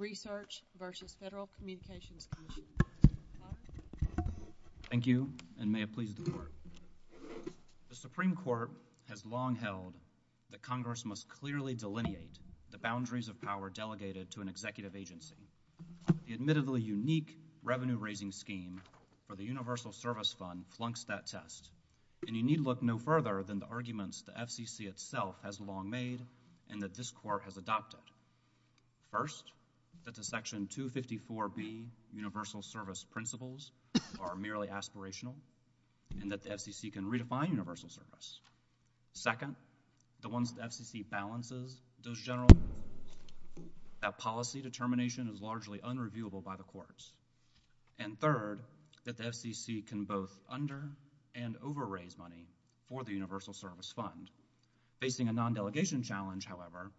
Research v. Federal Communications Commission. Thank you, and may it please the Court. The Supreme Court has long held that Congress must clearly delineate the boundaries of power delegated to an executive agency. The admittedly unique revenue-raising scheme for the Universal Service Fund flunks that test, and you need look no further than the arguments the FCC itself has long made and that this Court has adopted. First, that the Section 254B Universal Service Principles are merely aspirational and that the FCC can redefine universal service. Second, the ones that the FCC balances, those general, that policy determination is largely unreviewable by the courts. And third, that the FCC can both under- and over-raise money for the Universal Service Fund. Facing a non-delegation challenge, however,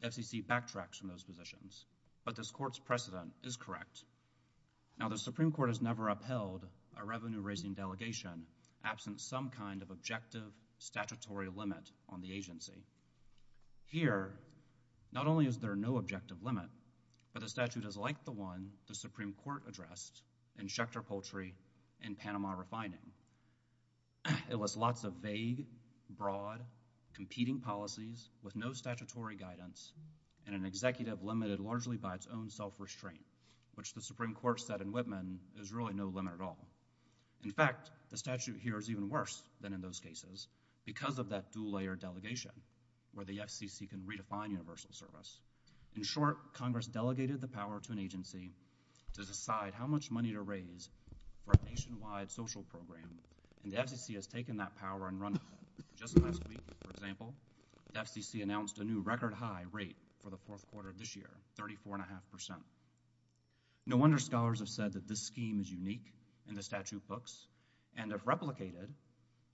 the FCC backtracks from those positions, but this Court's precedent is correct. Now, the Supreme Court has never upheld a revenue-raising delegation absent some kind of objective statutory limit on the agency. Here, not only is there no objective limit, but the statute is like the one the Supreme Court addressed in Schechter Poultry and Panama Refining. It lists lots of vague, broad, competing policies with no statutory guidance and an executive limited largely by its own self-restraint, which the Supreme Court said in Whitman is really no limit at all. In fact, the statute here is even worse than in those cases because of that dual-layer delegation where the FCC can redefine universal service. In short, Congress delegated the power to an agency to decide how much money to raise for a nationwide social program, and the FCC has taken that power and run with it. Just last week, for example, the FCC announced a new record high rate for the fourth quarter of this year, 34.5%. No wonder scholars have said that this scheme is unique in the statute books, and if replicated,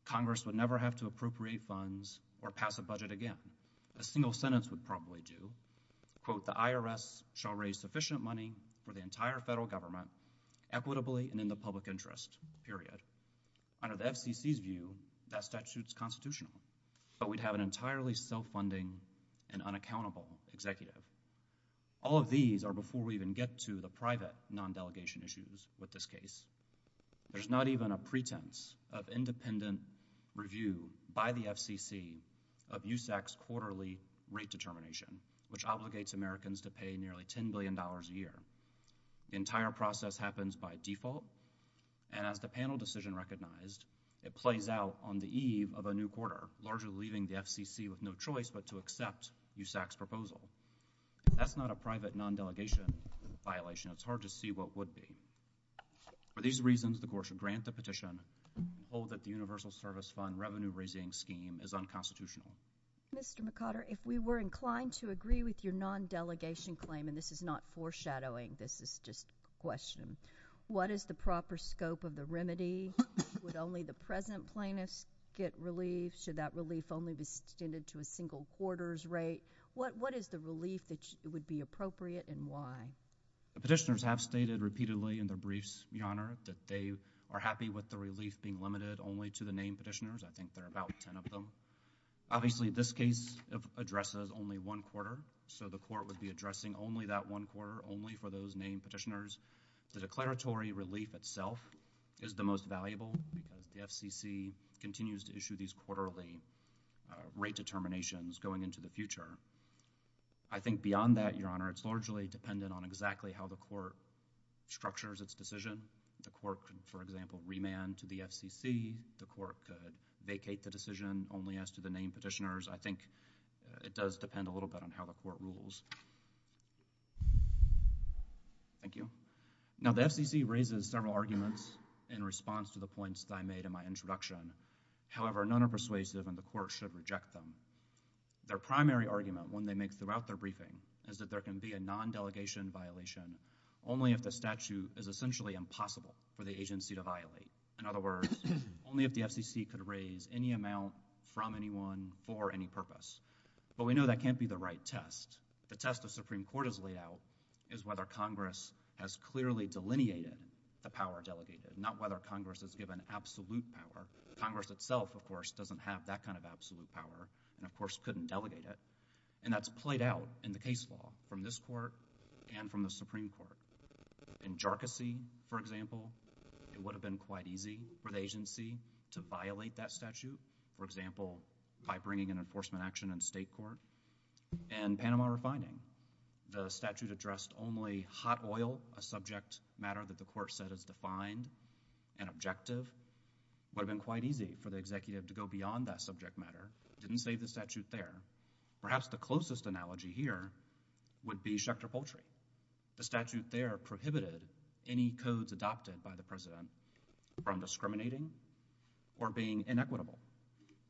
Congress would never have to appropriate funds or pass a budget again. A single sentence would probably do. Quote, the IRS shall raise sufficient money for the entire federal government equitably and in the public interest, period. Under the FCC's view, that statute's constitutional, but we'd have an entirely self-funding and unaccountable executive. All of these are before we even get to the private non-delegation issues with this case. There's not even a pretense of independent review by the FCC of USAC's quarterly rate determination, which obligates Americans to pay nearly $10 billion a year. The entire process happens by default, and as the panel decision recognized, it plays out on the eve of a new quarter, largely leaving the FCC with no choice but to accept USAC's proposal. That's not a private non-delegation violation. It's hard to see what would be. For these reasons, the Court should grant the petition and hold that the Universal Service Fund Revenue Raising Scheme is unconstitutional. Mr. McOtter, if we were inclined to agree with your non-delegation claim, and this is not foreshadowing, this is just a question, what is the proper scope of the remedy? Would only the present plaintiffs get relief? Should that relief only be extended to a single quarter's rate? What is the relief that would be appropriate and why? The petitioners have stated repeatedly in their briefs, Your Honor, that they are happy with the relief being limited only to the named petitioners. I think there are about 10 of them. Obviously, this case addresses only one quarter, so the Court would be addressing only that one quarter, only for those named petitioners. The declaratory relief itself is the most valuable because the FCC continues to issue these quarterly rate determinations going into the future. I think beyond that, Your Honor, it's largely dependent on exactly how the Court structures its decision. The Court could, for example, remand to the FCC. The Court could vacate the decision only as to the named petitioners. I think it does depend a little bit on how the Court rules. Thank you. Now, the FCC raises several arguments in response to the points that I made in my introduction. However, none are persuasive and the Court should reject them. Their primary argument, one they make throughout their briefing, is that there can be a non-delegation in other words, only if the FCC could raise any amount from anyone for any purpose. But we know that can't be the right test. The test the Supreme Court has laid out is whether Congress has clearly delineated the power delegated, not whether Congress has given absolute power. Congress itself, of course, doesn't have that kind of absolute power and, of course, couldn't delegate it. And that's played out in the case law from this Court and from the Supreme Court. In Jharkhand, for example, it would have been quite easy for the agency to violate that statute, for example, by bringing an enforcement action in state court. In Panama refining, the statute addressed only hot oil, a subject matter that the Court said is defined and objective. It would have been quite easy for the executive to go beyond that subject matter, didn't save the statute there. Perhaps the closest analogy here would be Schecter Poultry. The statute there prohibited any codes adopted by the President from discriminating or being inequitable.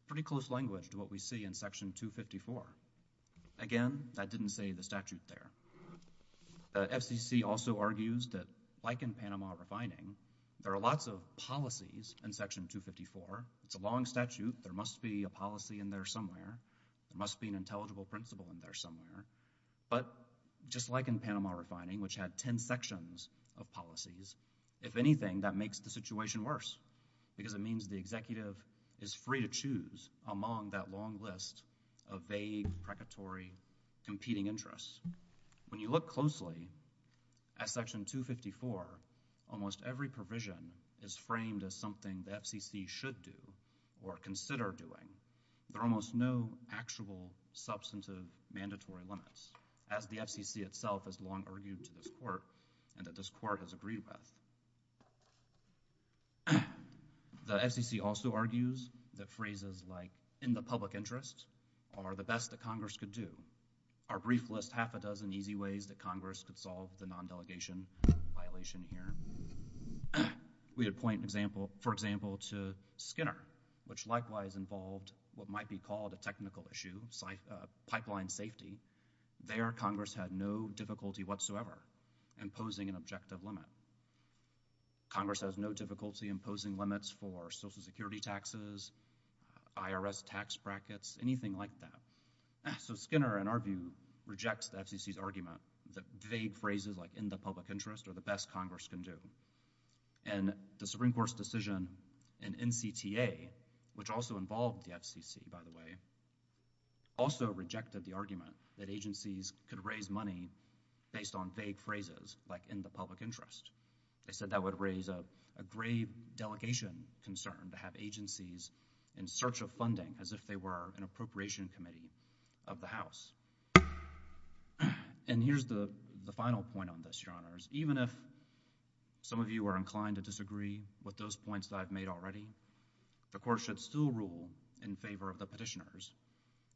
Pretty close language to what we see in Section 254. Again, that didn't save the statute there. The FCC also argues that like in Panama refining, there are lots of policies in Section 254. It's a long statute. There must be a policy in there somewhere. There must be an intelligible principle in there somewhere. But just like in Panama refining, which had 10 sections of policies, if anything, that makes the situation worse because it means the executive is free to choose among that long list of vague, precatory, competing interests. When you look closely at Section 254, almost every provision is framed as something the FCC should do or consider doing. There are almost no actual substantive mandatory limits as the FCC itself has long argued to this Court and that this Court has agreed with. The FCC also argues that phrases like, in the public interest, are the best that Congress could do. Our brief lists half a dozen easy ways that Congress could solve the non-delegation violation here. We would point, for example, to Skinner, which likewise involved what might be called a technical issue, pipeline safety. There, Congress had no difficulty whatsoever imposing an objective limit. Congress has no difficulty imposing limits for Social Security taxes, IRS tax brackets, anything like that. So Skinner, in our view, rejects the FCC's argument that vague phrases like, in the public interest, are the best Congress can do. And the Supreme Court's decision in NCTA, which also involved the FCC, by the way, also rejected the argument that agencies could raise money based on vague phrases like, in the public interest. They said that would raise a grave delegation concern to have agencies in search of funding for the FCC. And here's the final point on this, Your Honors. Even if some of you are inclined to disagree with those points that I've made already, the Court should still rule in favor of the petitioners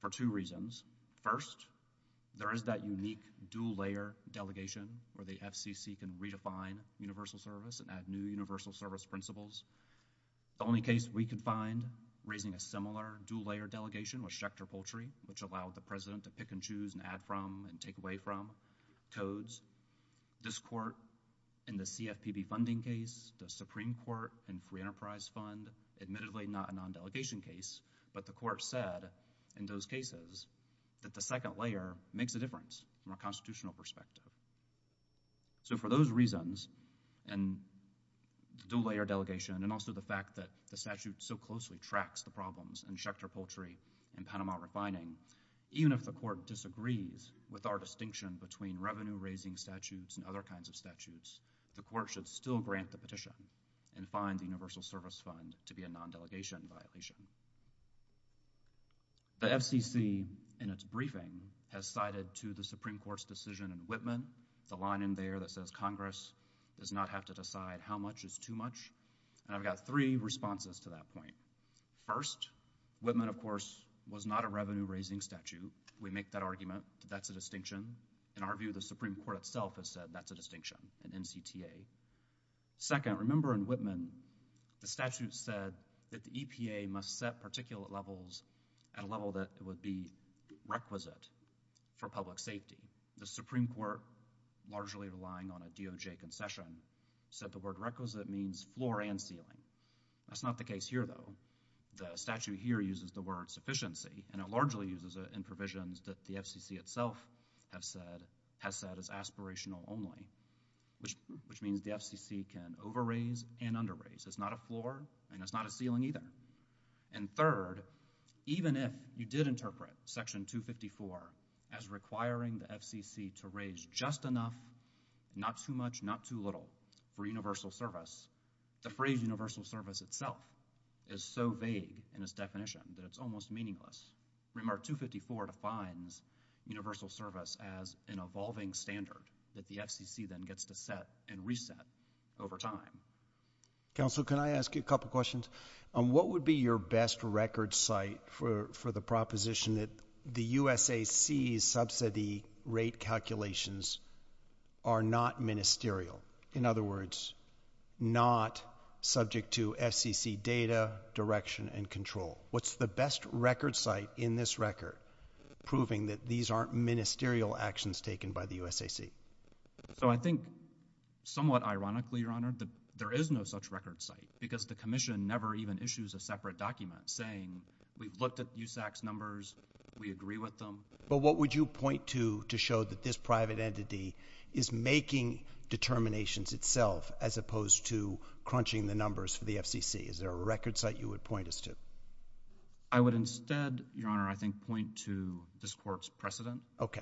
for two reasons. First, there is that unique dual-layer delegation where the FCC can redefine universal service and add new universal service principles. The only case we could find raising a similar dual-layer delegation was Schechter Poultry, which allowed the President to pick and choose and add from and take away from codes. This Court in the CFPB funding case, the Supreme Court and Free Enterprise Fund, admittedly not a non-delegation case, but the Court said in those cases that the second layer makes a difference from a constitutional perspective. So for those reasons, and dual-layer delegation and also the fact that the statute so closely tracks the problems in Schechter Poultry and Panama refining, even if the Court disagrees with our distinction between revenue-raising statutes and other kinds of statutes, the Court should still grant the petition and find the universal service fund to be a non-delegation violation. The FCC, in its briefing, has cited to the Supreme Court's decision in Whitman the line in there that says Congress does not have to decide how much is too much, and I've got three responses to that point. First, Whitman, of course, was not a revenue-raising statute. We make that argument. That's a distinction. In our view, the Supreme Court itself has said that's a distinction in NCTA. Second, remember in Whitman, the statute said that the EPA must set particulate levels at a level that would be requisite for public safety. The Supreme Court, largely relying on a DOJ concession, said the word requisite means floor and ceiling. That's not the case here, though. The statute here uses the word sufficiency, and it largely uses it in provisions that the FCC itself has said is aspirational only, which means the FCC can over-raise and under-raise. It's not a floor, and it's not a ceiling either. And third, even if you did interpret Section 254 as requiring the FCC to raise just enough, not too much, not too little for universal service, the phrase universal service itself is so vague in its definition that it's almost meaningless. Remark 254 defines universal service as an evolving standard that the FCC then gets to set and reset over time. Counsel, can I ask you a couple questions? What would be your best record site for the proposition that the USAC's subsidy rate calculations are not ministerial, in other words, not subject to FCC data, direction, and control? What's the best record site in this record proving that these aren't ministerial actions taken by the USAC? So I think somewhat ironically, Your Honor, that there is no such record site because the Commission never even issues a separate document saying we've looked at USAC's numbers, we agree with them. But what would you point to to show that this private entity is making determinations itself as opposed to crunching the numbers for the FCC? Is there a record site you would point us to? I would instead, Your Honor, I think point to this Court's precedent. Okay.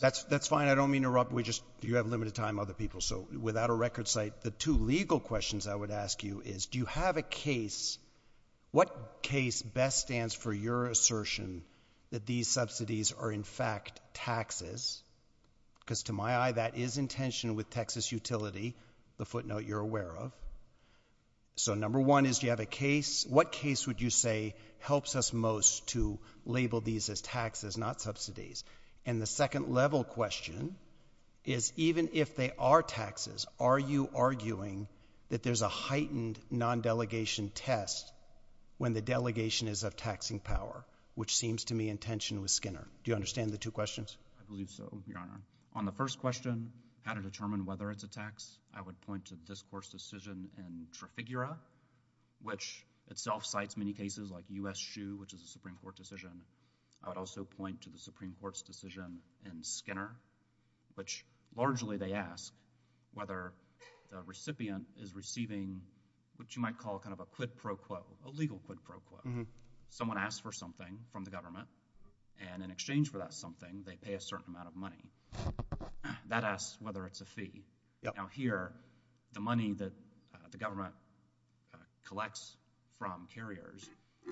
That's fine. I don't mean to interrupt. We just — you have limited time, other people. So without a record site, the two legal questions I would ask you is do you have a case — what case best stands for your assertion that these subsidies are, in fact, taxes? Because to my eye, that is in tension with Texas utility, the footnote you're aware of. So number one is do you have a case — what case would you say helps us most to label these as taxes, not subsidies? And the second level question is even if they are taxes, are you arguing that there's a is of taxing power, which seems to me in tension with Skinner? Do you understand the two questions? I believe so, Your Honor. On the first question, how to determine whether it's a tax, I would point to this Court's decision in Trafigura, which itself cites many cases like U.S. Shoe, which is a Supreme Court decision. I would also point to the Supreme Court's decision in Skinner, which largely they ask whether the recipient is receiving what you might call kind of a quid pro quo, a legal quid pro quo. Someone asks for something from the government, and in exchange for that something, they pay a certain amount of money. That asks whether it's a fee. Now, here, the money that the government collects from carriers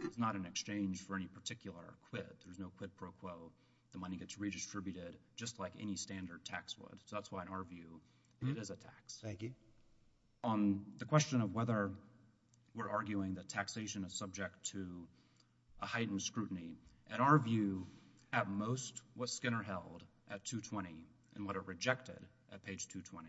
is not in exchange for any particular quid. There's no quid pro quo. The money gets redistributed just like any standard tax would. So that's why, in our view, it is a tax. Thank you. On the question of whether we're arguing that taxation is subject to a heightened scrutiny, in our view, at most, what Skinner held at 220 and what it rejected at page 220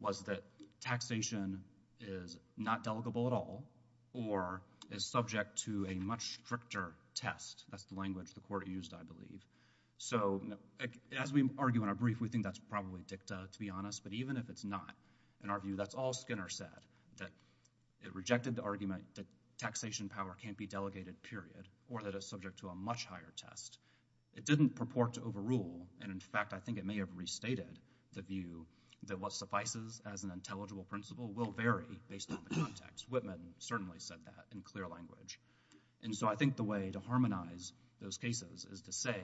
was that taxation is not delegable at all or is subject to a much stricter test. That's the language the Court used, I believe. So as we argue in our brief, we think that's probably dicta, to be honest, but even if it's not, in our view, that's all Skinner said, that it rejected the argument that taxation power can't be delegated, period, or that it's subject to a much higher test. It didn't purport to overrule, and in fact, I think it may have restated the view that what suffices as an intelligible principle will vary based on the context. Whitman certainly said that in clear language. And so I think the way to harmonize those cases is to say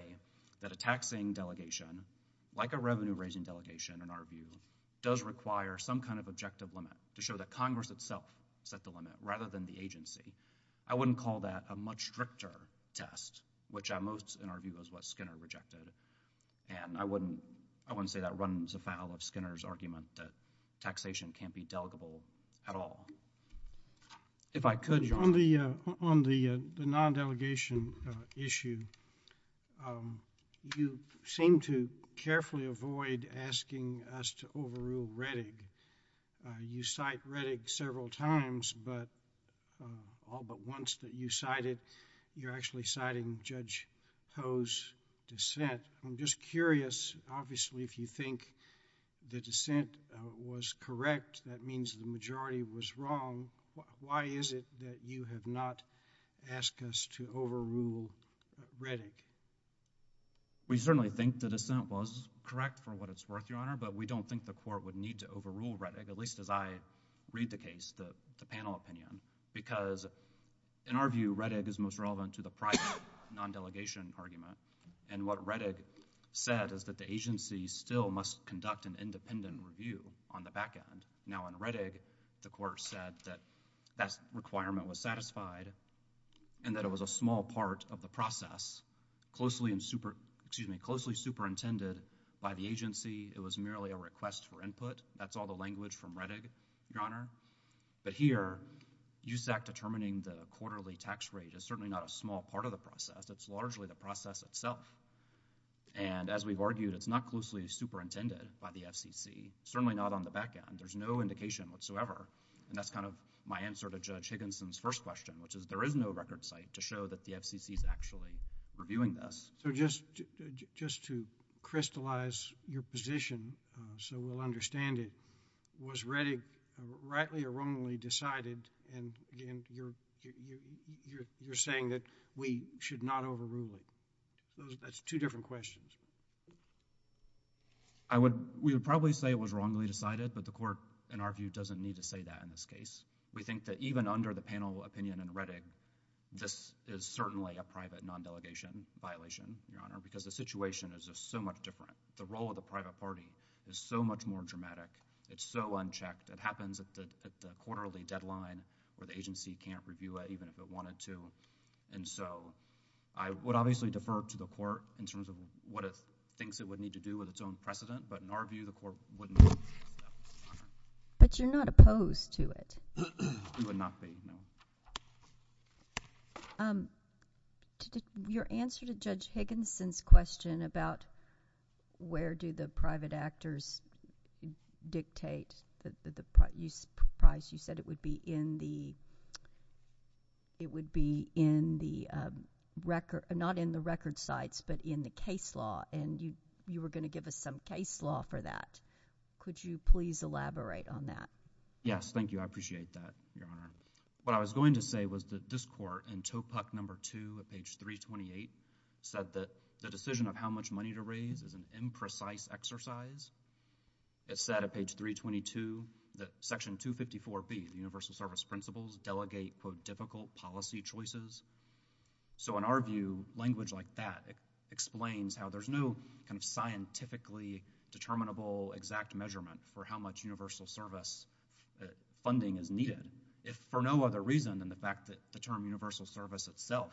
that a taxing delegation, like a revenue-raising delegation, in our view, does require some kind of objective limit to show that Congress itself set the limit rather than the agency. I wouldn't call that a much stricter test, which at most, in our view, is what Skinner rejected, and I wouldn't say that runs afoul of Skinner's argument that taxation can't be delegable at all. If I could, Your Honor. On the non-delegation issue, you seem to carefully avoid asking us to overrule Rettig. You cite Rettig several times, but all but once that you cited, you're actually citing Judge Ho's dissent. I'm just curious, obviously, if you think the dissent was correct, that means the majority was wrong, why is it that you have not asked us to overrule Rettig? We certainly think the dissent was correct for what it's worth, Your Honor, but we don't think the Court would need to overrule Rettig, at least as I read the case, the panel opinion, because in our view, Rettig is most relevant to the private non-delegation argument, and what Rettig said is that the agency still must conduct an independent review on the back end. Now, in Rettig, the Court said that that requirement was satisfied, and that it was a small part of the process, closely superintended by the agency. It was merely a request for input. That's all the language from Rettig, Your Honor, but here, USAC determining the quarterly tax rate is certainly not a small part of the process. It's largely the process itself, and as we've argued, it's not closely superintended by the FCC, certainly not on the back end. There's no indication whatsoever, and that's kind of my answer to Judge Higginson's first question, which is there is no record site to show that the FCC is actually reviewing this. So just to crystallize your position so we'll understand it, was Rettig rightly or wrongly decided, and again, you're saying that we should not overrule it. That's two different questions. I would... we would probably say it was wrongly decided, but the Court, in our view, doesn't need to say that in this case. We think that even under the panel opinion in Rettig, this is certainly a private non-delegation violation, Your Honor, because the situation is just so much different. The role of the private party is so much more dramatic. It's so unchecked. It happens at the quarterly deadline where the agency can't review it even if it wanted to, and so I would obviously defer to the Court in terms of what it thinks it would need to do with its own precedent, but in our view, the Court wouldn't... But you're not opposed to it? I would not be, no. Your answer to Judge Higginson's question about where do the private actors dictate the price, you said it would be in the... it would be in the record... not in the record sites, but in the case law, and you were going to give us some case law for that. Could you please elaborate on that? Yes. Thank you. I appreciate that, Your Honor. What I was going to say was that this Court, in TOEPUC No. 2 at page 328, said that the decision of how much money to raise is an imprecise exercise. It said at page 322 that Section 254B, the universal service principles, delegate, quote, difficult policy choices. So in our view, language like that explains how there's no kind of scientifically determinable exact measurement for how much universal service funding is needed, if for no other reason than the fact that the term universal service itself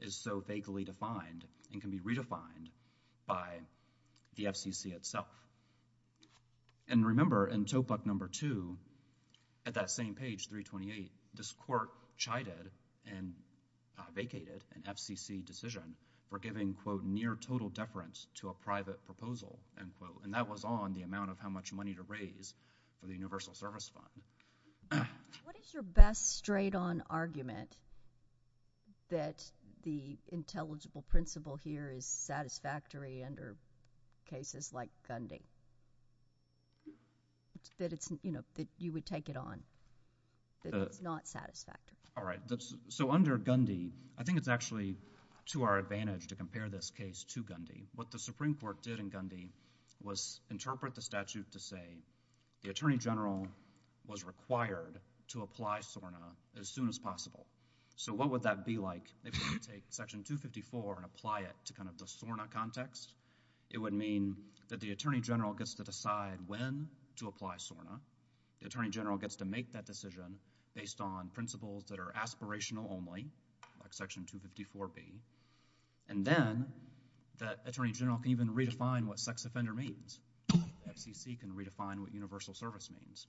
is so vaguely defined and can be redefined by the FCC itself. And remember, in TOEPUC No. 2, at that same page, 328, this Court chided and vacated an FCC decision for giving, quote, near total deference to a private proposal, end quote, and that was on the amount of how much money to raise for the universal service fund. What is your best straight-on argument that the intelligible principle here is satisfactory under cases like Gundy, that it's, you know, that you would take it on, that it's not satisfactory? All right. So under Gundy, I think it's actually to our advantage to compare this case to Gundy. What the Supreme Court did in Gundy was interpret the statute to say the Attorney General was required to apply SORNA as soon as possible. So what would that be like if we could take Section 254 and apply it to kind of the SORNA context? It would mean that the Attorney General gets to decide when to apply SORNA. The Attorney General gets to make that decision based on principles that are aspirational only, like Section 254b, and then that Attorney General can even redefine what sex offender means, FCC can redefine what universal service means.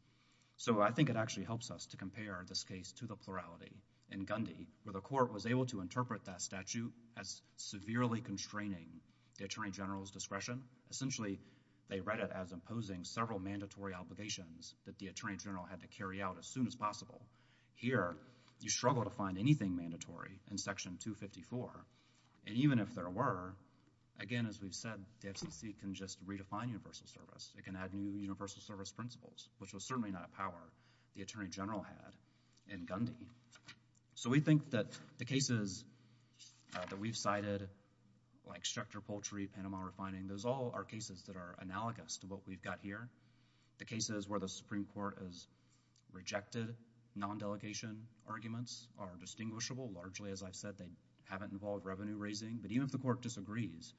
So I think it actually helps us to compare this case to the plurality in Gundy, where the Court was able to interpret that statute as severely constraining the Attorney General's discretion. Essentially, they read it as imposing several mandatory obligations that the Attorney General had to carry out as soon as possible. Here, you struggle to find anything mandatory in Section 254, and even if there were, again, as we've said, the FCC can just redefine universal service. It can add new universal service principles, which was certainly not a power the Attorney General had in Gundy. So we think that the cases that we've cited, like Structor Poultry, Panama Refining, those all are cases that are analogous to what we've got here. The cases where the Supreme Court has rejected non-delegation arguments are distinguishable. Largely, as I've said, they haven't involved revenue raising. But even if the Court disagrees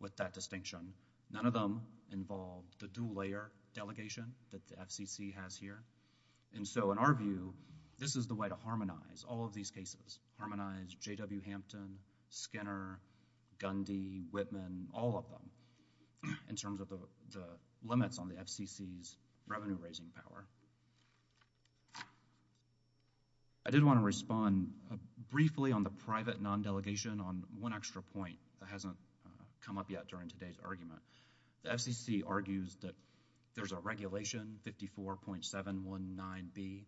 with that distinction, none of them involve the dual layer delegation that the FCC has here. And so, in our view, this is the way to harmonize all of these cases, harmonize J.W. Hampton, Skinner, Gundy, Whitman, all of them, in terms of the limits on the FCC's revenue raising power. I did want to respond briefly on the private non-delegation on one extra point that hasn't come up yet during today's argument. The FCC argues that there's a regulation, 54.719B,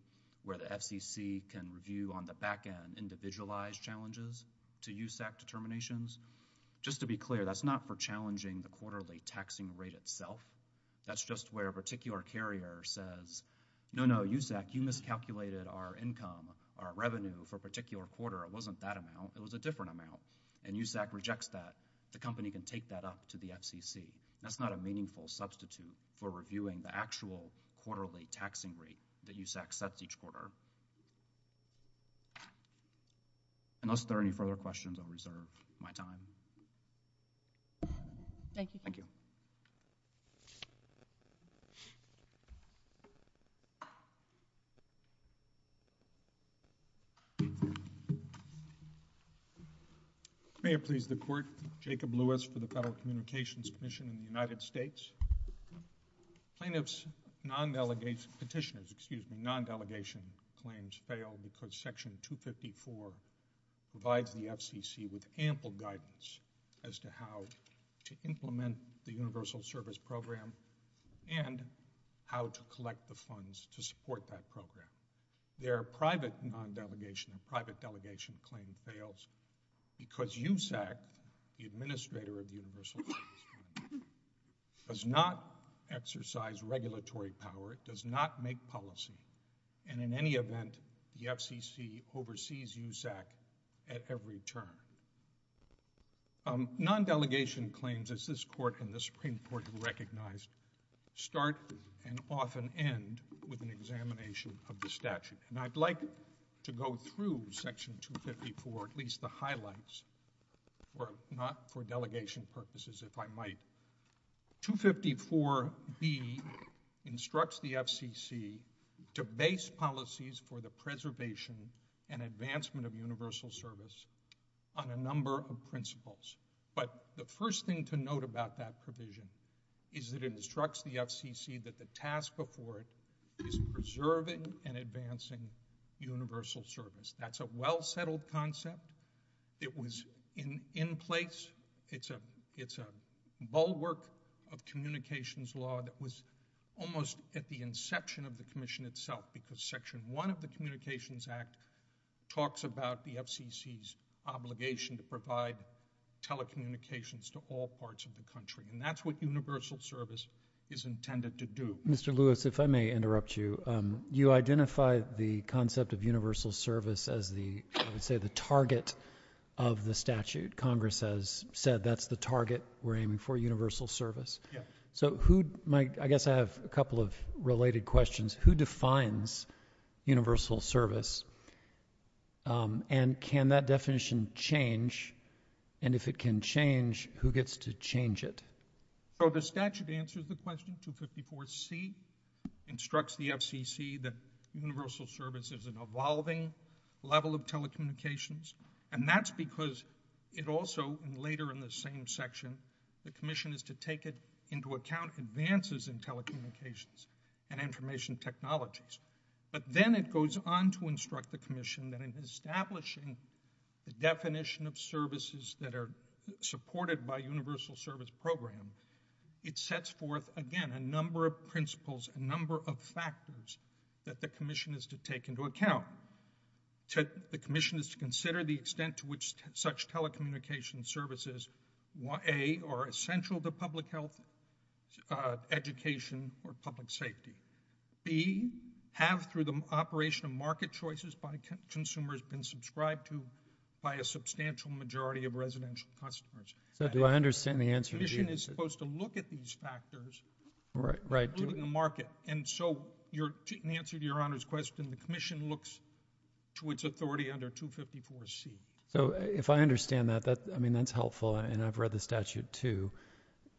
where the FCC can review on the back end individualized challenges to USAC determinations. Just to be clear, that's not for challenging the quarterly taxing rate itself. That's just where a particular carrier says, no, no, USAC, you miscalculated our income, our revenue, for a particular quarter. It wasn't that amount. It was a different amount. And USAC rejects that. The company can take that up to the FCC. That's not a meaningful substitute for reviewing the actual quarterly taxing rate that USAC sets each quarter. Unless there are any further questions, I'll reserve my time. Thank you. May it please the Court. Jacob Lewis for the Federal Communications Commission in the United States. Plaintiffs' non-delegation, petitioners, excuse me, non-delegation claims fail because Section 254 provides the FCC with ample guidance as to how to implement the universal service program and how to collect the funds to support that program. Their private non-delegation, private delegation claim fails because USAC, the administrator of universal service, does not exercise regulatory power. It does not make policy. And in any event, the FCC oversees USAC at every turn. Non-delegation claims, as this Court and the Supreme Court have recognized, start and often end with an examination of the statute. And I'd like to go through Section 254, at least the highlights, or not for delegation purposes, if I might. 254B instructs the FCC to base policies for the preservation and advancement of universal service on a number of principles. But the first thing to note about that provision is that it instructs the FCC that the task before it is preserving and advancing universal service. That's a well-settled concept. It was in place. It's a bulwark of communications law that was almost at the inception of the Commission itself, because Section 1 of the Communications Act talks about the FCC's obligation to provide telecommunications to all parts of the country. And that's what universal service is intended to do. MR. MILLER Mr. Lewis, if I may interrupt you, you identify the concept of universal service as the, I would say, the target of the statute. Congress has said that's the target we're aiming for, universal service. MR. LEWIS Yeah. MR. MILLER So who, I guess I have a couple of related questions. Who defines universal service? And can that definition change? And if it can change, who gets to change it? MR. LEWIS So the statute answers the question. 254C instructs the FCC that universal service is an evolving level of telecommunications. And that's because it also, later in the same section, the Commission is to take it into account that universal service is the definition of services that are supported by a universal service program. It sets forth, again, a number of principles, a number of factors that the Commission is to take into account. The Commission is to consider the extent to which such telecommunications services, A, are essential to public health, education, or public safety, B, have, through the operation of market choices by consumers, been subscribed to by a substantial majority of residential customers. MR. MILLER So do I understand the answer to that? MR. LEWIS The Commission is supposed to look at these factors, including the market. And so, in answer to Your Honor's question, the Commission looks to its authority under 254C. MR. MILLER So if I understand that, I mean, that's helpful. And I've read the statute, too.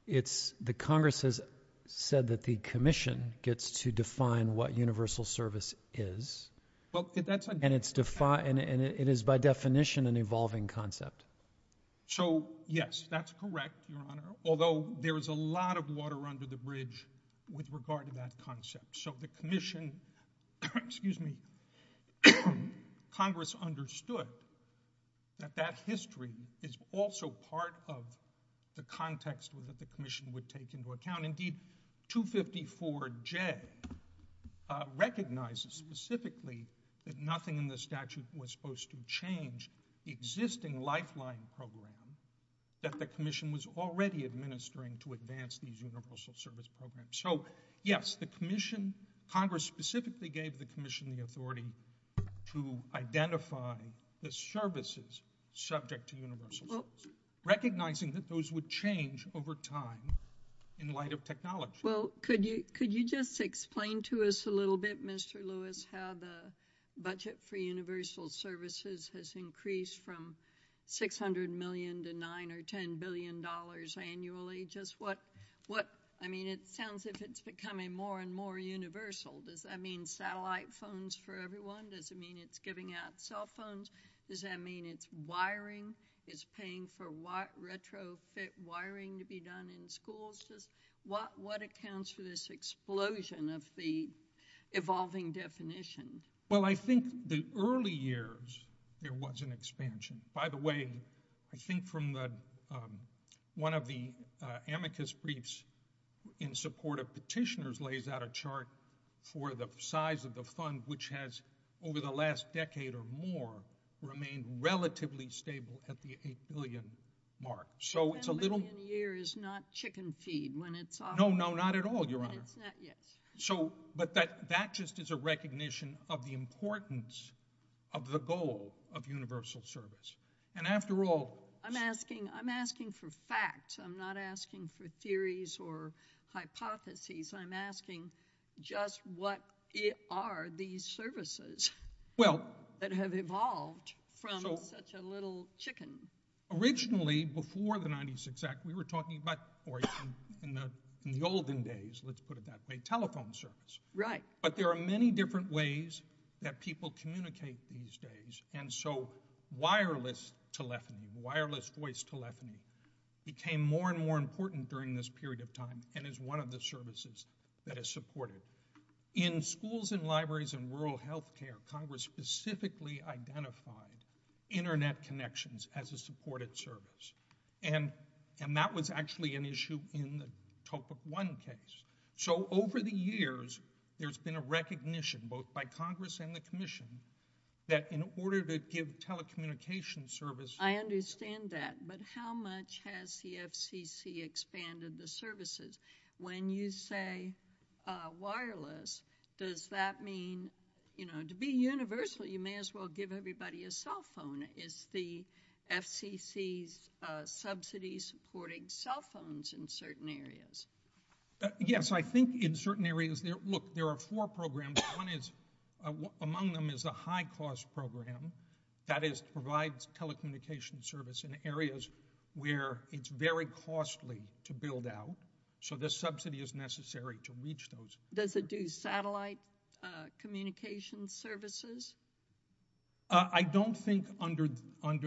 The Congress has said that the Commission gets to define what universal service is. And it is, by definition, an evolving concept. MR. LEWIS So, yes, that's correct, Your Honor, although there is a lot of water under the bridge with regard to that concept. So the Commission—excuse me—Congress understood that that history is also part of the context that the Commission would take into account. Indeed, 254J recognizes specifically that nothing in the statute was supposed to change the existing lifeline program that the Commission was already administering to advance these universal service programs. So, yes, the Commission—Congress specifically gave the Commission the authority to identify the services subject to universal service, recognizing that those would change over time in light of technology. MS. PATTERSON Well, could you just explain to us a little bit, Mr. Lewis, how the budget for universal services has increased from $600 million to $9 or $10 billion annually? Just what—I mean, it sounds as if it's becoming more and more universal. Does that mean satellite phones for everyone? Does it mean it's giving out cell phones? Does that mean it's wiring? It's paying for retrofit wiring to be done in schools? What accounts for this explosion of the evolving definition? MR. LEWIS Well, I think the early years, there was an expansion. By the way, I think from the—one of the amicus briefs in support of petitioners lays out a chart for the size of the fund, which has, over the last decade or more, remained relatively stable at the $8 billion mark. So, it's a little— MS. PATTERSON $10 million a year is not chicken feed when it's— MR. LEWIS No, no, not at all, Your Honor. MS. PATTERSON It's not, yes. MR. LEWIS But that just is a recognition of the importance of the goal of universal service. And after all— MS. PATTERSON I'm asking—I'm asking for facts. I'm not asking for theories or hypotheses. I'm asking just what are these services— MR. LEWIS Well— MS. PATTERSON —that have evolved from such a little chicken? MR. LEWIS Originally, before the 1996 Act, we were talking about—or even in the olden days, let's put it that way—telephone service. MS. PATTERSON Right. MR. LEWIS But there are many different ways that people communicate these days. And so wireless telephony, wireless voice telephony, became more and more important during this period of time and is one of the services that is supported. In schools and libraries and rural health care, Congress specifically identified internet connections as a supported service. And that was actually an issue in the Topic 1 case. So over the years, there's been a recognition, both by Congress and the Commission, that in order to give telecommunication service— PATTERSON I understand that. But how much has the FCC expanded the services? When you say wireless, does that mean—to be universal, you may as well give everybody a cell phone. Is the FCC's subsidy supporting cell phones in certain areas? MR. LEWIS Yes. I think in certain areas—look, there are four programs. One is—among them is a high-cost program that provides telecommunication service in areas where it's very costly to build out. So the subsidy is necessary to reach those. PATTERSON Does it do satellite communication services? MR. LEWIS I don't think under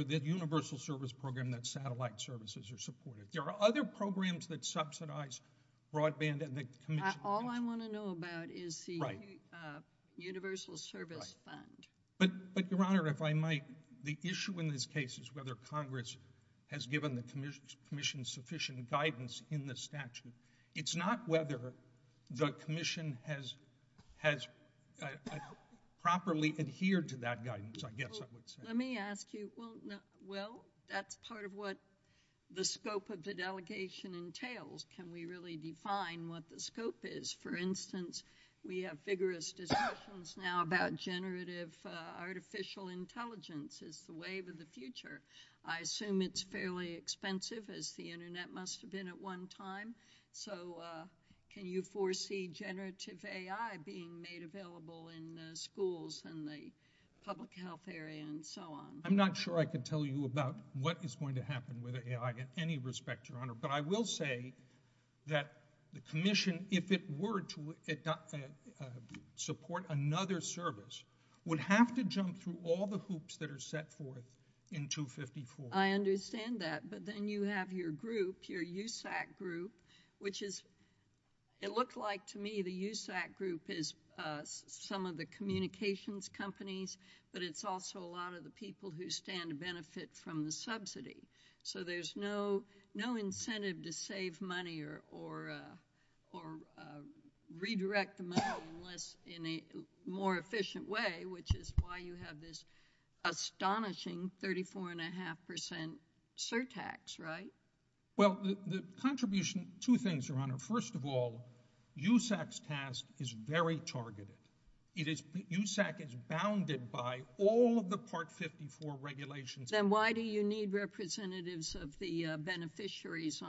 the universal service program that satellite services are supported. There are other programs that subsidize broadband and the Commission— MR. LEWIS Right. PATTERSON —universal service fund. LEWIS But, Your Honor, if I might, the issue in this case is whether Congress has given the Commission sufficient guidance in the statute. It's not whether the Commission has properly adhered to that guidance, I guess I would say. MS. PATTERSON Let me ask you—well, that's part of what the scope of the delegation entails. Can we really define what the scope is? For instance, we have vigorous discussions now about generative artificial intelligence as the wave of the future. I assume it's fairly expensive, as the Internet must have been at one time. So can you foresee generative AI being made available in the schools and the public health area and so on? MR. LEWIS I'm not sure I can tell you about what is going to happen with AI in any respect, Your Honor. But I will say that the Commission, if it were to support another service, would have to jump through all the hoops that are set forth in 254. MS. PATTERSON I understand that. But then you have your group, your USAC group, which is—it looked like to me the USAC group is some of the communications companies, but it's also a lot of the people who stand to benefit from the subsidy. So there's no incentive to save money or redirect the money in a more efficient way, which is why you have this astonishing 34.5 percent surtax, right? MR. LEWIS Well, the contribution—two things, Your Honor. First of all, USAC's task is very targeted. USAC is bounded by all of the Part 54 regulations. MS. PATTERSON I'm sorry. For the beneficiaries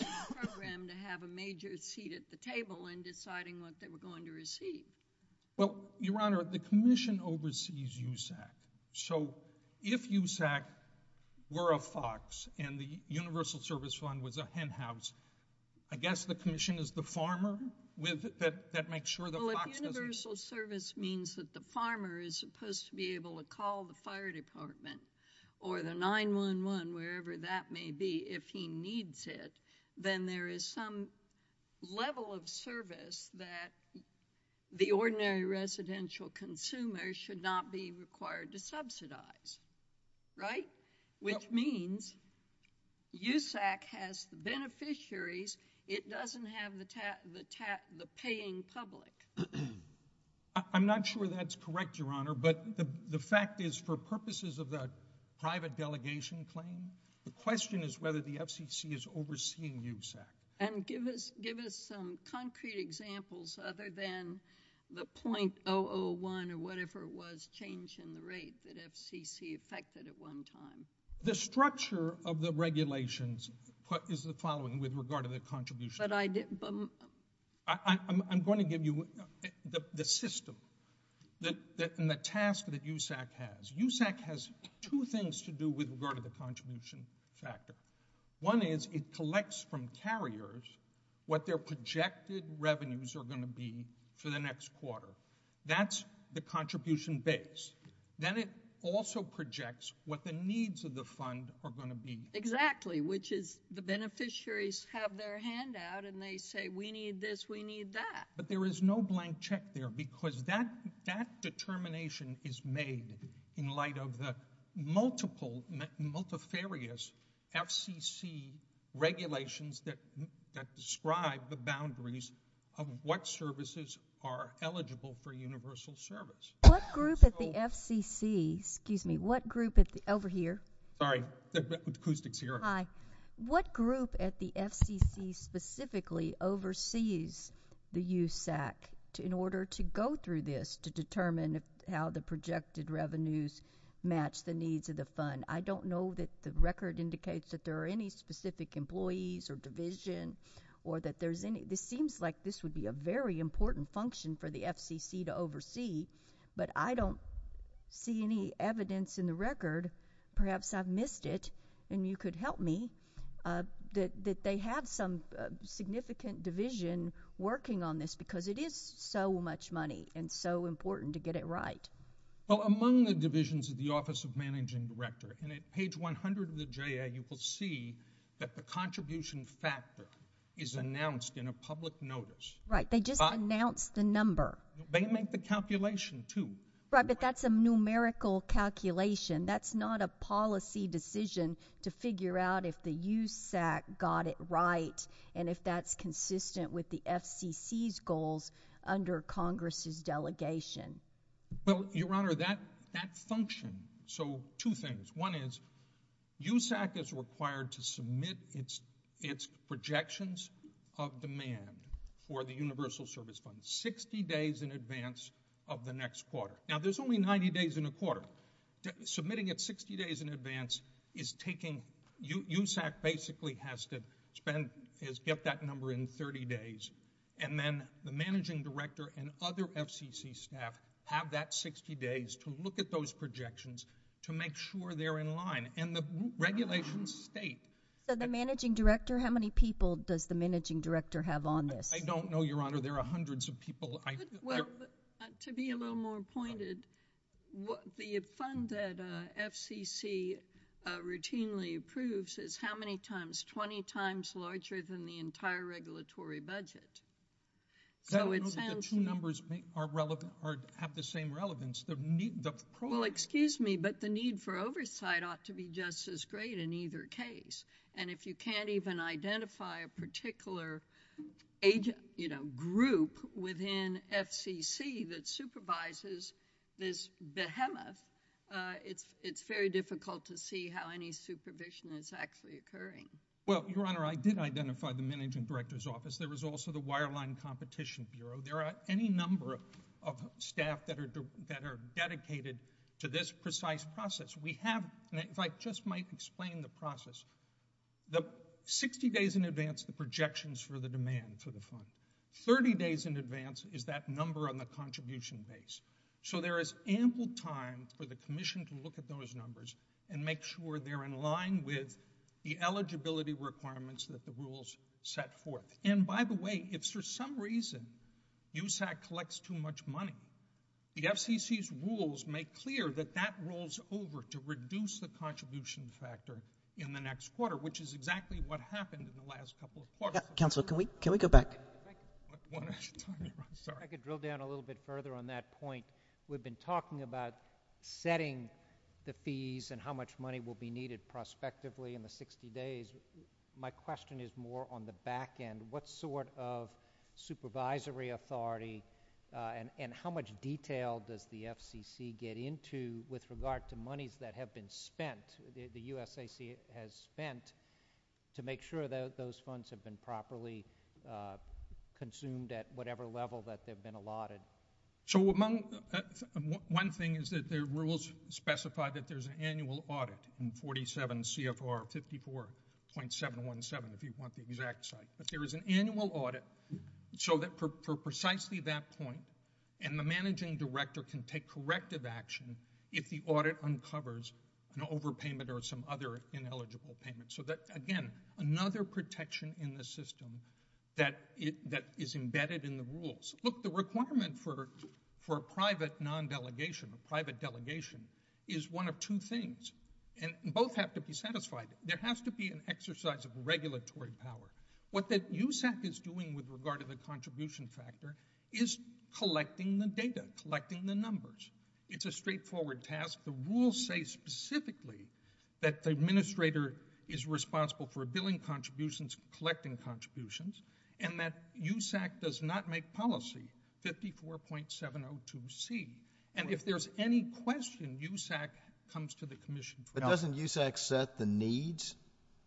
of the program to have a major seat at the table in deciding what they were going to receive. MR. LEWIS Well, Your Honor, the Commission oversees USAC. So if USAC were a FOX, and the Universal Service Fund was a hen house, I guess the Commission is the farmer that makes sure that FOX doesn't— MS. PATTERSON Well, if Universal Service means that the farmer is supposed to be able to if he needs it, then there is some level of service that the ordinary residential consumer should not be required to subsidize, right? Which means USAC has the beneficiaries. It doesn't have the paying public. MR. LEWIS I'm not sure that's correct, Your Honor, but the fact is, for purposes of the claim, the question is whether the FCC is overseeing USAC. PATTERSON And give us some concrete examples other than the .001 or whatever it was, change in the rate that FCC affected at one time. MR. LEWIS The structure of the regulations is the following with regard to the contribution. MS. PATTERSON But I didn't— MR. LEWIS I'm going to give you the system and the task that USAC has. USAC has two things to do with regard to the contribution factor. One is it collects from carriers what their projected revenues are going to be for the next quarter. That's the contribution base. Then it also projects what the needs of the fund are going to be. MS. PATTERSON Exactly, which is the beneficiaries have their handout, and they say, we need this, we need that. MR. LEWIS But there is no blank check there because that determination is made in light of the multifarious FCC regulations that describe the boundaries of what services are eligible for universal service. MS. PATTERSON What group at the FCC specifically oversees the USAC in order to go through this to determine how the projected revenues match the needs of the fund? I don't know that the record indicates that there are any specific employees or division or that there's any—it seems like this would be a very important function for the FCC to oversee, but I don't see any evidence in the record—perhaps I've missed it and you could help me—that they have some significant division working on this because it is so much money and so important to get it right. LEWIS Well, among the divisions of the Office of Managing Director, and at page 100 of the J.A., you will see that the contribution factor is announced in a public notice. MS. PATTERSON Right. They just announced the number. MR. LEWIS They make the calculation, too. MS. PATTERSON Right, but that's a numerical calculation. That's not a policy decision to figure out if the USAC got it right and if that's consistent with the FCC's goals under Congress's delegation. LEWIS Well, Your Honor, that function—so two things. One is USAC is required to submit its projections of demand for the Universal Service Fund 60 days in advance of the next quarter. Now, there's only 90 days in a quarter. Submitting it 60 days in advance is taking—USAC basically has to spend—is get that number in 30 days, and then the Managing Director and other FCC staff have that 60 days to look at those projections to make sure they're in line. And the regulations state— MS. PATTERSON So the Managing Director, how many people does the Managing Director have on this? MR. LEWIS I don't know, Your Honor. There are hundreds of people. MS. PATTERSON Well, to be a little more pointed, the fund that FCC routinely approves is how many times—20 times larger than the entire regulatory budget. So it sounds— LEWIS I don't know that the two numbers are relevant—have the same relevance. The need—the— MS. PATTERSON Well, excuse me, but the need for oversight ought to be just as great in either case. And if you can't even identify a particular age—you know, group within FCC that supervises this behemoth, it's very difficult to see how any supervision is actually occurring. LEWIS Well, Your Honor, I did identify the Managing Director's office. There was also the Wireline Competition Bureau. There are any number of staff that are dedicated to this precise process. We have—and if I just might explain the process, the 60 days in advance, the projections for the demand for the fund. Thirty days in advance is that number on the contribution base. So there is ample time for the Commission to look at those numbers and make sure they're in line with the eligibility requirements that the rules set forth. And by the way, if for some reason USAC collects too much money, the FCC's rules make clear that that rolls over to reduce the contribution factor in the next quarter, which is exactly what happened in the last couple of quarters. MS. PATTERSON Yeah, Counselor, can we—can we go back? LEWIS I want to—I'm sorry. I want to make a point. We've been talking about setting the fees and how much money will be needed prospectively in the 60 days. My question is more on the back end. What sort of supervisory authority and how much detail does the FCC get into with regard to monies that have been spent, the USAC has spent, to make sure that those funds have been properly consumed at whatever level that they've been allotted? So among—one thing is that the rules specify that there's an annual audit in 47 CFR 54.717, if you want the exact site. But there is an annual audit so that for precisely that point, and the managing director can take corrective action if the audit uncovers an overpayment or some other ineligible payment. So that, again, another protection in the system that is embedded in the rules. Look, the requirement for a private non-delegation, a private delegation, is one of two things. And both have to be satisfied. There has to be an exercise of regulatory power. What the USAC is doing with regard to the contribution factor is collecting the data, collecting the numbers. It's a straightforward task. The rules say specifically that the administrator is responsible for billing contributions, collecting contributions, and that USAC does not make policy 54.702C. And if there's any question, USAC comes to the commission. But doesn't USAC set the needs?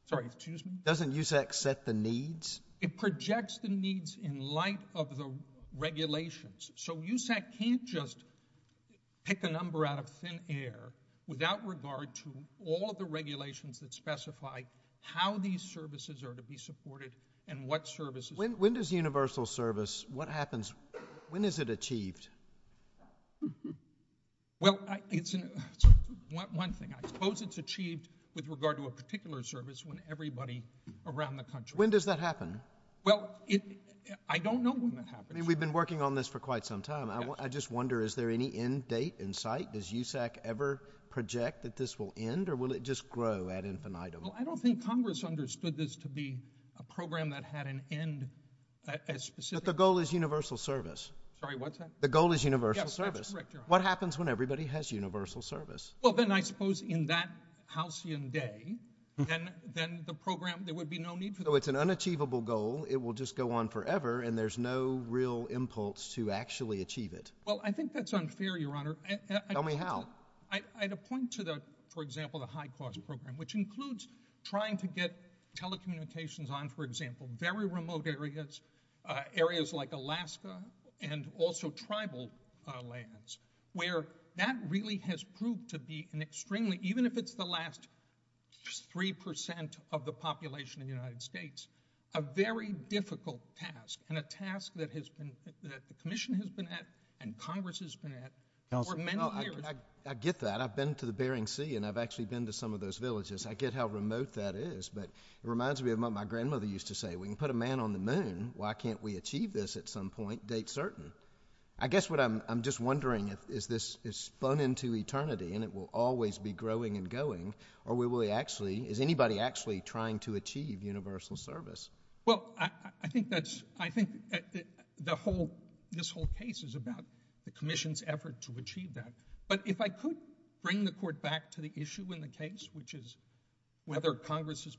Sorry, excuse me? Doesn't USAC set the needs? It projects the needs in light of the regulations. So USAC can't just pick a number out of thin air without regard to all of the regulations that specify how these services are to be supported and what services. When does universal service, what happens, when is it achieved? Well, it's one thing. I suppose it's achieved with regard to a particular service when everybody around the country. When does that happen? Well, I don't know when that happens. I mean, we've been working on this for quite some time. I just wonder, is there any end date in sight? Does USAC ever project that this will end? Or will it just grow ad infinitum? Well, I don't think Congress understood this to be a program that had an end as specific. But the goal is universal service. Sorry, what's that? The goal is universal service. What happens when everybody has universal service? Well, then I suppose in that halcyon day, then the program, there would be no need for that. So it's an unachievable goal. It will just go on forever. And there's no real impulse to actually achieve it. Well, I think that's unfair, Your Honor. Tell me how. I'd point to the, for example, the high cost program, which includes trying to get telecommunications on, for example, very remote areas, areas like Alaska, and also tribal lands, where that really has proved to be an extremely, even if it's the last 3% of the population of the United States, a very difficult task. And a task that the commission has been at, and Congress has been at, for many years. I get that. I've been to the Bering Sea, and I've actually been to some of those villages. I get how remote that is. But it reminds me of what my grandmother used to say. We can put a man on the moon. Why can't we achieve this at some point, date certain? I guess what I'm just wondering is this is spun into eternity, and it will always be growing and going. Or is anybody actually trying to achieve universal service? Well, I think this whole case is about the commission's effort to achieve that. But if I could bring the court back to the issue in the case, which is whether Congress has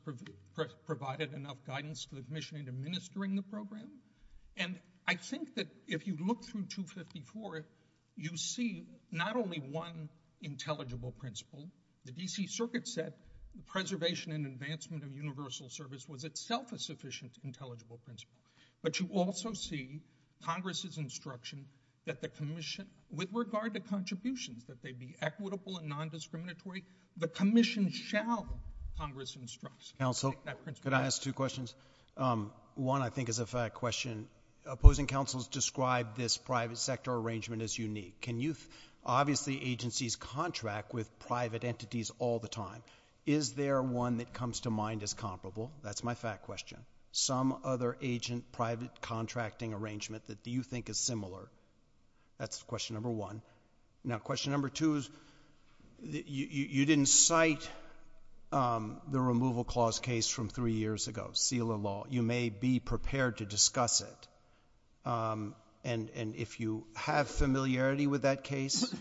provided enough guidance to the commission in administering the program. And I think that if you look through 254, you see not only one intelligible principle. The D.C. Circuit said preservation and advancement of universal service was itself a sufficient intelligible principle. But you also see Congress's instruction that the commission, with regard to contributions, that they be equitable and non-discriminatory. The commission shall, Congress instructs. Counsel, could I ask two questions? One, I think, is a fact question. Opposing counsels describe this private sector arrangement as unique. Can youth, obviously, agencies contract with private entities all the time? Is there one that comes to mind as comparable? That's my fact question. Some other agent private contracting arrangement that you think is similar? That's question number one. Now, question number two is, you didn't cite the removal clause case from three years ago, SELA law. You may be prepared to discuss it. And if you have familiarity with that case,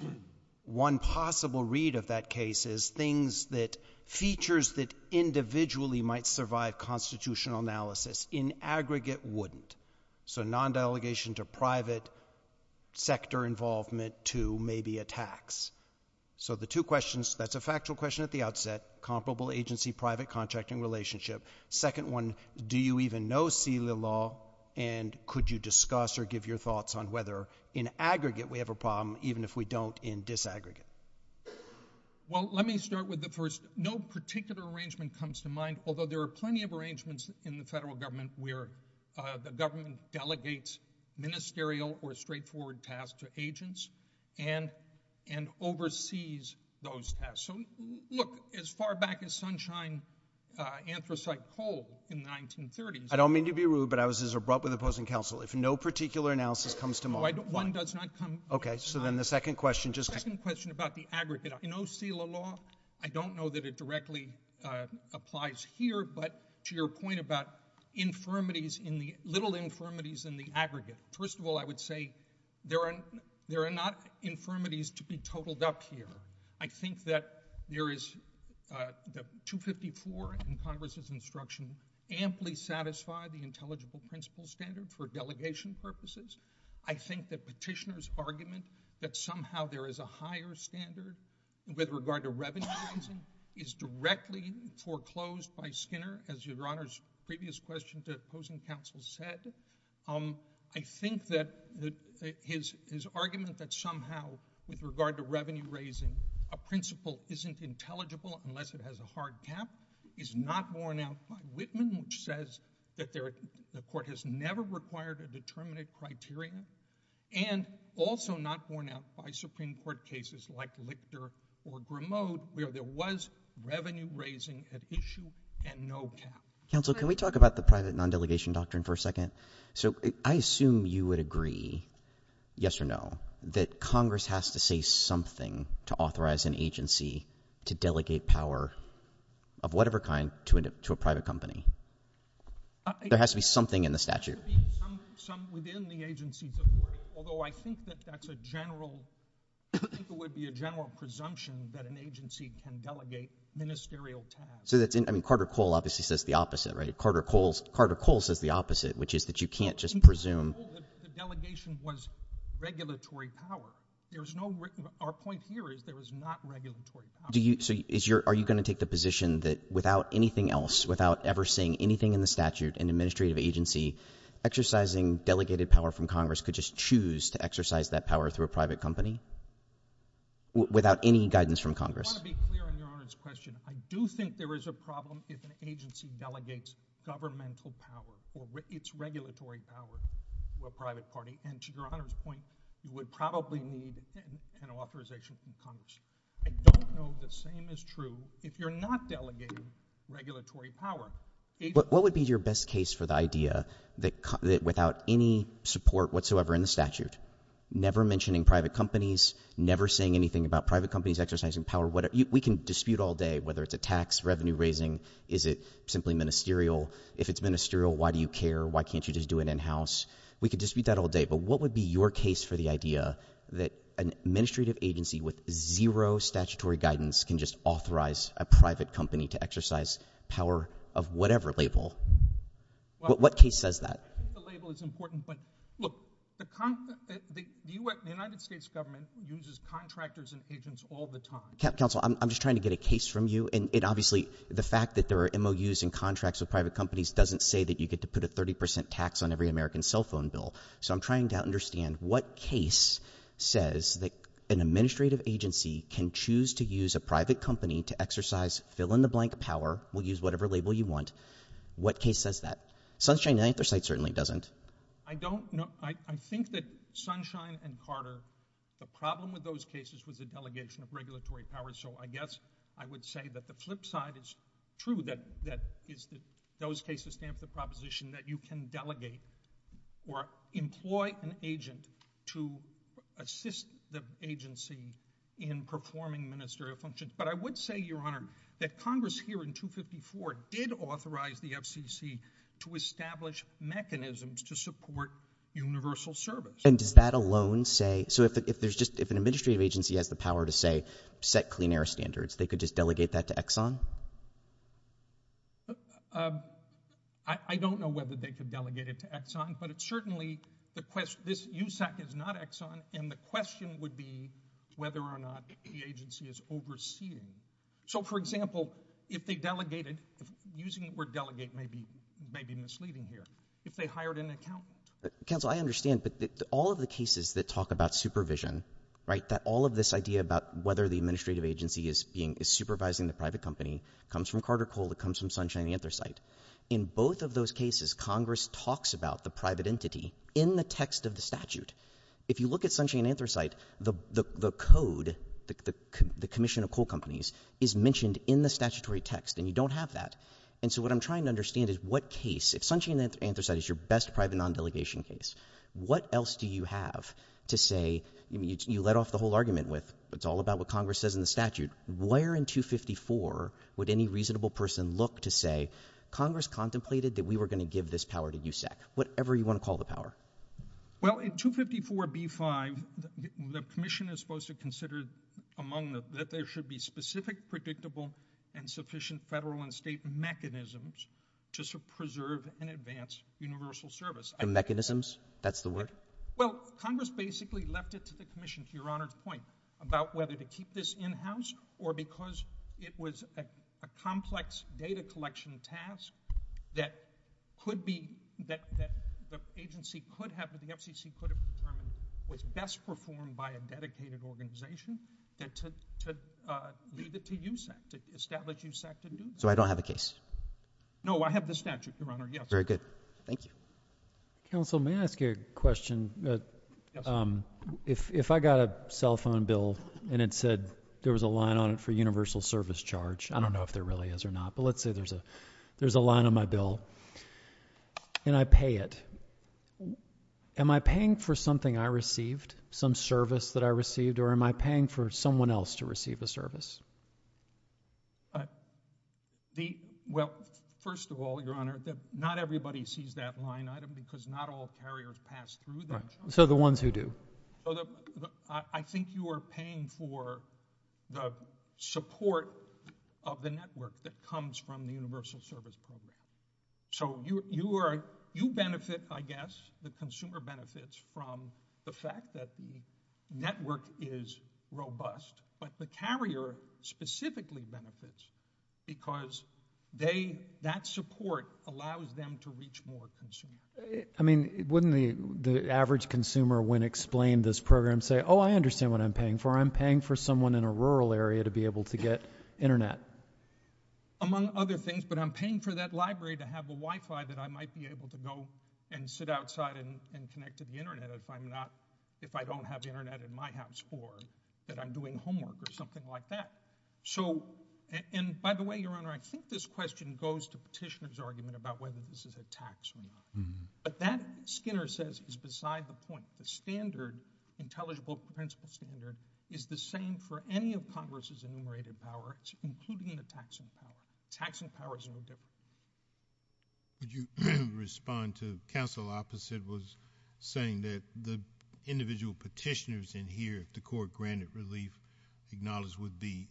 one possible read of that case is things that, individually, might survive constitutional analysis. In aggregate, wouldn't. So non-delegation to private sector involvement to maybe a tax. So the two questions, that's a factual question at the outset, comparable agency private contracting relationship. Second one, do you even know SELA law? And could you discuss or give your thoughts on whether, in aggregate, we have a problem, even if we don't in disaggregate? Well, let me start with the first. No particular arrangement comes to mind, although there are plenty of arrangements in the federal government where the government delegates ministerial or straightforward tasks to agents and oversees those tasks. So look, as far back as Sunshine Anthracite Coal in the 1930s. I don't mean to be rude, but I was as abrupt with opposing counsel. If no particular analysis comes to mind, why? One does not come to mind. Okay. So then the second question just. The second question about the aggregate. I know SELA law. I don't know that it directly applies here, but to your point about infirmities in the little infirmities in the aggregate. First of all, I would say there are not infirmities to be totaled up here. I think that there is the 254 in Congress's instruction amply satisfy the intelligible principle standard for delegation purposes. I think that petitioner's argument that somehow there is a higher standard with regard to revenue raising is directly foreclosed by Skinner, as Your Honor's previous question to opposing counsel said. I think that his argument that somehow with regard to revenue raising, a principle isn't intelligible unless it has a hard cap is not worn out by Whitman, which says that the court has never required a determinate criteria and also not worn out by Supreme Court cases like Lichter or Grimaud where there was revenue raising at issue and no cap. Counsel, can we talk about the private non-delegation doctrine for a second? So I assume you would agree, yes or no, that Congress has to say something to authorize an agency to delegate power of whatever kind to a private company. There has to be something in the statute. Some within the agencies, of course, although I think that that's a general, I think it would be a general presumption that an agency can delegate ministerial tasks. So that's, I mean, Carter Cole obviously says the opposite, right? Carter Cole says the opposite, which is that you can't just presume. The delegation was regulatory power. There's no, our point here is there is not regulatory power. Do you, so are you going to take the position that without anything else, without ever saying anything in the statute, an administrative agency exercising delegated power from Congress could just choose to exercise that power through a private company without any guidance from Congress? I want to be clear on Your Honor's question. I do think there is a problem if an agency delegates governmental power or its regulatory power to a private party. And to Your Honor's point, you would probably need an authorization from Congress. I don't know the same is true if you're not delegating regulatory power. What would be your best case for the idea that without any support whatsoever in the statute, never mentioning private companies, never saying anything about private companies exercising power, what we can dispute all day, whether it's a tax revenue raising, is it simply ministerial? If it's ministerial, why do you care? Why can't you just do it in-house? We could dispute that all day. But what would be your case for the idea that an administrative agency with zero statutory guidance can just authorize a private company to exercise power of whatever label? What case says that? I think the label is important, but look, the United States government uses contractors and agents all the time. Counsel, I'm just trying to get a case from you. And obviously, the fact that there are MOUs and contracts with private companies doesn't say that you get to put a 30% tax on every American cell phone bill. So I'm trying to understand what case says that an administrative agency can choose to use a private company to exercise fill-in-the-blank power. We'll use whatever label you want. What case says that? Sunshine and Anthracite certainly doesn't. I don't know. I think that Sunshine and Carter, the problem with those cases was the delegation of regulatory power. So I guess I would say that the flip side is true, that those cases stamp the proposition that you can delegate or employ an agent to assist the agency in performing ministerial functions. But I would say, Your Honor, that Congress here in 254 did authorize the FCC to establish mechanisms to support universal service. And does that alone say... So if an administrative agency has the power to, say, set clean air standards, they could just delegate that to Exxon? I don't know whether they could delegate it to Exxon, but it's certainly... This USAC is not Exxon, and the question would be whether or not the agency is overseeing. So, for example, if they delegated... Using the word delegate may be misleading here. If they hired an accountant... Counsel, I understand. But all of the cases that talk about supervision, right, that all of this idea about whether the administrative agency is supervising the private company comes from Carter Coal, it comes from Sunshine Anthracite. In both of those cases, Congress talks about the private entity in the text of the statute. If you look at Sunshine Anthracite, the code, the commission of coal companies, is mentioned in the statutory text, and you don't have that. And so what I'm trying to understand is what case... If Sunshine Anthracite is your best private non-delegation case, what else do you have to say... I mean, you let off the whole argument with, it's all about what Congress says in the statute. Where in 254 would any reasonable person look to say, Congress contemplated that we were going to give this power to USAC? Whatever you want to call the power. Well, in 254b-5, the commission is supposed to consider among the... That there should be specific, predictable, and sufficient federal and state mechanisms just to preserve and advance universal service. Well, Congress basically left it to the commission, to Your Honor's point, about whether to keep this in-house or because it was a complex data collection task that the agency could have, that the FCC could have determined was best performed by a dedicated organization, that to leave it to USAC, to establish USAC to do that. So I don't have a case? No, I have the statute, Your Honor, yes. Very good. Thank you. Counsel, may I ask you a question? Yes. If I got a cell phone bill and it said there was a line on it for universal service charge, I don't know if there really is or not, but let's say there's a line on my bill and I pay it. Am I paying for something I received, some service that I received, or am I paying for someone else to receive a service? Well, first of all, Your Honor, not everybody sees that line item because not all carriers pass through them. So the ones who do? I think you are paying for the support of the network that comes from the universal service program. So you benefit, I guess, the consumer benefits from the fact that the network is robust, but the carrier specifically benefits because that support allows them to reach more consumers. I mean, wouldn't the average consumer, when explained this program, say, oh, I understand what I'm paying for. I'm paying for someone in a rural area to be able to get internet. Among other things, but I'm paying for that library to have a Wi-Fi that I might be able to go and sit outside and connect to the internet if I don't have the internet in my house or that I'm doing homework or something like that. So, and by the way, Your Honor, I think this question goes to Petitioner's argument about whether this is a tax or not. But that, Skinner says, is beside the point. The standard, intelligible principle standard, is the same for any of Congress's enumerated powers, including the taxing power. Taxing power is no different. Could you respond to counsel opposite was saying that the individual petitioners in here, if the court granted relief, acknowledged would be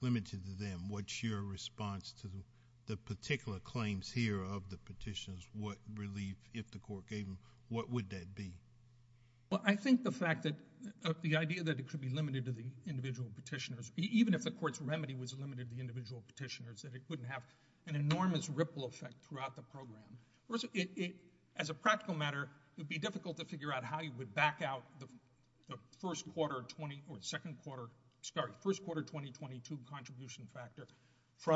limited to them. What's your response to the particular claims here of the petitioners? What relief, if the court gave them, what would that be? Well, I think the fact that the idea that it could be limited to the individual petitioners, even if the court's remedy was limited to individual petitioners, that it couldn't have an enormous ripple effect throughout the program. As a practical matter, it would be difficult to figure out how you would back out the first quarter or second quarter, sorry, first quarter 2022 contribution factor for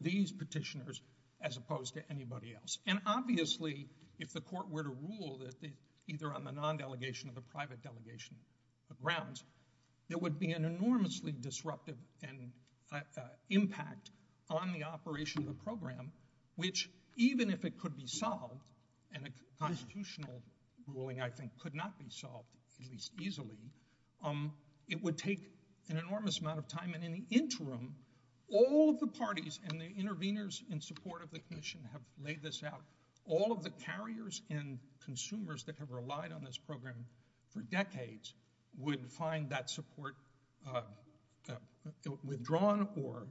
these petitioners as opposed to anybody else. And obviously, if the court were to rule that either on the non-delegation or the private delegation grounds, there would be an enormously disruptive impact on the operation of the program, which even if it could be solved, and a constitutional ruling, I think, could not be solved, at least easily, it would take an enormous amount of time. And in the interim, all of the parties and the interveners in support of the commission have laid this out. All of the carriers and consumers that have relied on this program for decades would find that support withdrawn or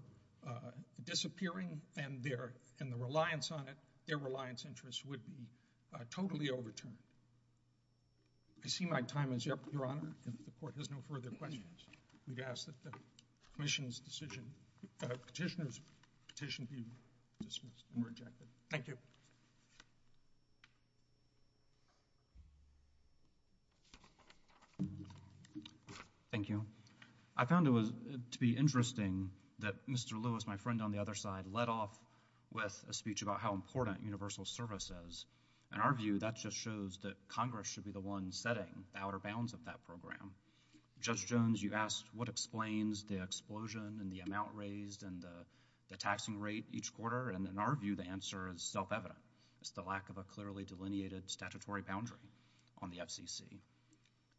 disappearing, and their reliance on it, their reliance interests would be totally overtuned. I see my time is up, Your Honor. If the court has no further questions, we ask that the petitioner's petition be dismissed and rejected. Thank you. Thank you. I found it to be interesting that Mr. Lewis, my friend on the other side, led off with a speech about how important universal service is. In our view, that just shows that Congress should be the one setting the outer bounds of that program. Judge Jones, you asked what explains the explosion and the amount raised and the taxing rate each quarter, and in our view, the answer is self-evident. It's the lack of a clearly delineated statutory boundary on the FCC.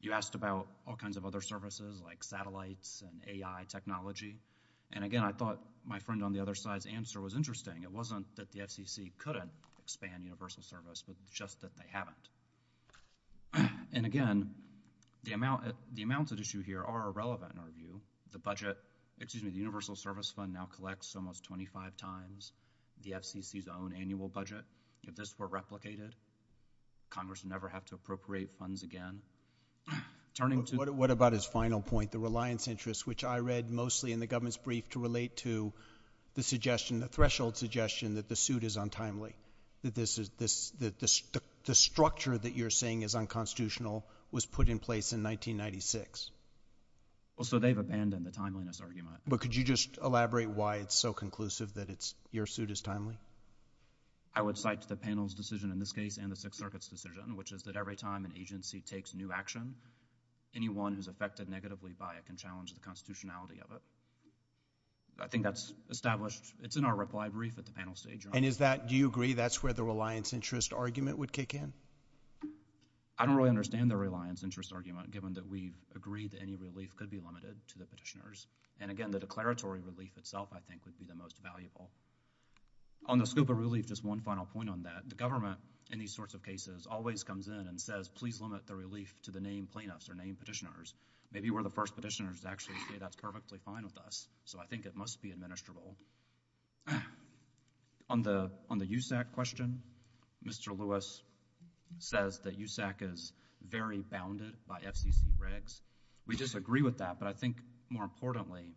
You asked about all kinds of other services, like satellites and AI technology, and again, I thought my friend on the other side's answer was interesting. It wasn't that the FCC couldn't expand universal service, but it's just that they haven't. And again, the amounts at issue here are irrelevant in our view. The budget, excuse me, the universal service fund now collects almost 25 times the FCC's own annual budget. If this were replicated, Congress would never have to appropriate funds again. What about his final point, the reliance interests, which I read mostly in the government's brief to relate to the suggestion, the threshold suggestion, that the suit is untimely, that the structure that you're saying is unconstitutional was put in place in 1996. Well, so they've abandoned the timeliness argument. But could you just elaborate why it's so conclusive that your suit is timely? I would cite the panel's decision in this case and the Sixth Circuit's decision, which is that every time an agency takes new action, anyone who's affected negatively by it can challenge the constitutionality of it. I think that's established. It's in our reply brief at the panel stage. And is that, do you agree, that's where the reliance interest argument would kick in? I don't really understand the reliance interest argument, given that we agree that any relief could be limited to the petitioners. And again, the declaratory relief itself, I think, would be the most valuable. On the scope of relief, just one final point on that. The government, in these sorts of cases, always comes in and says, please limit the relief to the named plaintiffs or named petitioners. Maybe we're the first petitioners to actually say that's perfectly fine with us. So I think it must be administrable. On the USAC question, Mr. Lewis says that USAC is very bounded by FCC regs. We disagree with that. But I think, more importantly,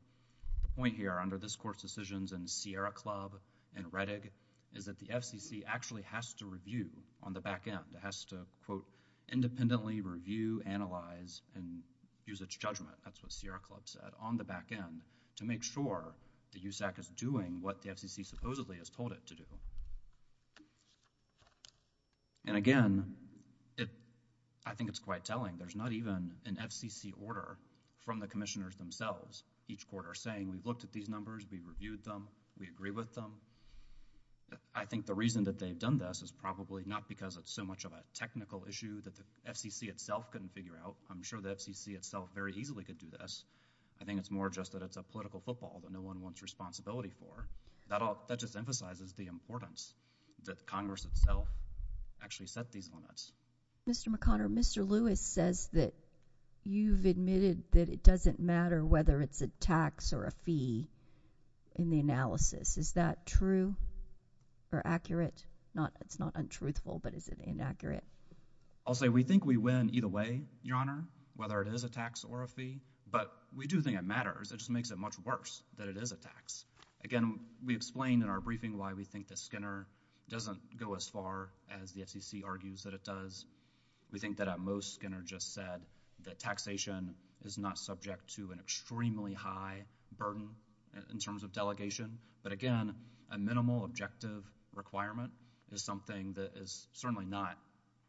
the point here under this court's decisions and Sierra Club and Rettig is that the FCC actually has to review on the back end. It has to, quote, independently review, analyze, and use its judgment, that's what Sierra Club said, on the back end, to make sure the USAC is doing what the FCC supposedly has told it to do. And again, I think it's quite telling. There's not even an FCC order from the commissioners themselves. Each court are saying, we've looked at these numbers, we've reviewed them, we agree with them. I think the reason that they've done this is probably not because it's so much of a technical issue that the FCC itself couldn't figure out. I'm sure the FCC itself very easily could do this. I think it's more just that it's a political football that no one wants responsibility for. That just emphasizes the importance that Congress itself actually set these limits. Mr. McConnell, Mr. Lewis says that you've admitted that it doesn't matter whether it's a tax or a fee in the analysis. Is that true or accurate? It's not untruthful, but is it inaccurate? I'll say we think we win either way, Your Honor, whether it is a tax or a fee. But we do think it matters. It just makes it much worse that it is a tax. Again, we explained in our briefing why we think that Skinner doesn't go as far as the FCC argues that it does. We think that at most, Skinner just said that taxation is not subject to an extremely high burden in terms of delegation. But again, a minimal objective requirement is something that is certainly not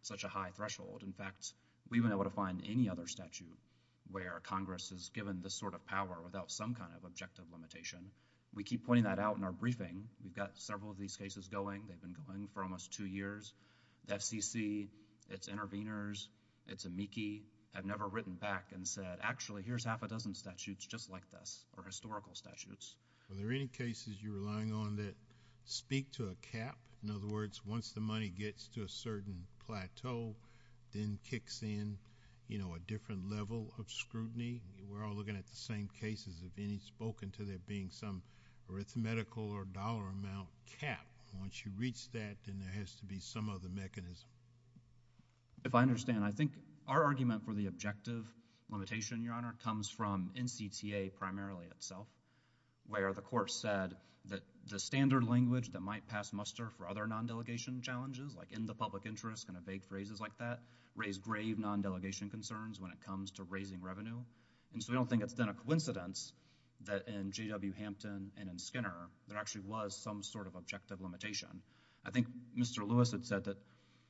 such a high threshold. In fact, we've been able to find any other statute where Congress has given this sort of power without some kind of objective limitation. We keep pointing that out in our briefing. We've got several of these cases going. They've been going for almost two years. The FCC, its interveners, its amici have never written back and said, actually, here's half a dozen statutes just like this, or historical statutes. Are there any cases you're relying on that speak to a cap? In other words, once the money gets to a certain plateau, then kicks in a different level of scrutiny. We're all looking at the same cases of any spoken to there being some arithmetical or dollar amount cap. Once you reach that, then there has to be some other mechanism. If I understand, I think our argument for the objective limitation, Your Honor, comes from NCTA primarily itself, where the court said that the standard language that might pass muster for other non-delegation challenges, like in the public interest, kind of vague phrases like that, raise grave non-delegation concerns when it comes to raising revenue. And so we don't think it's been a coincidence that in JW Hampton and in Skinner, there actually was some sort of objective limitation. I think Mr. Lewis had said that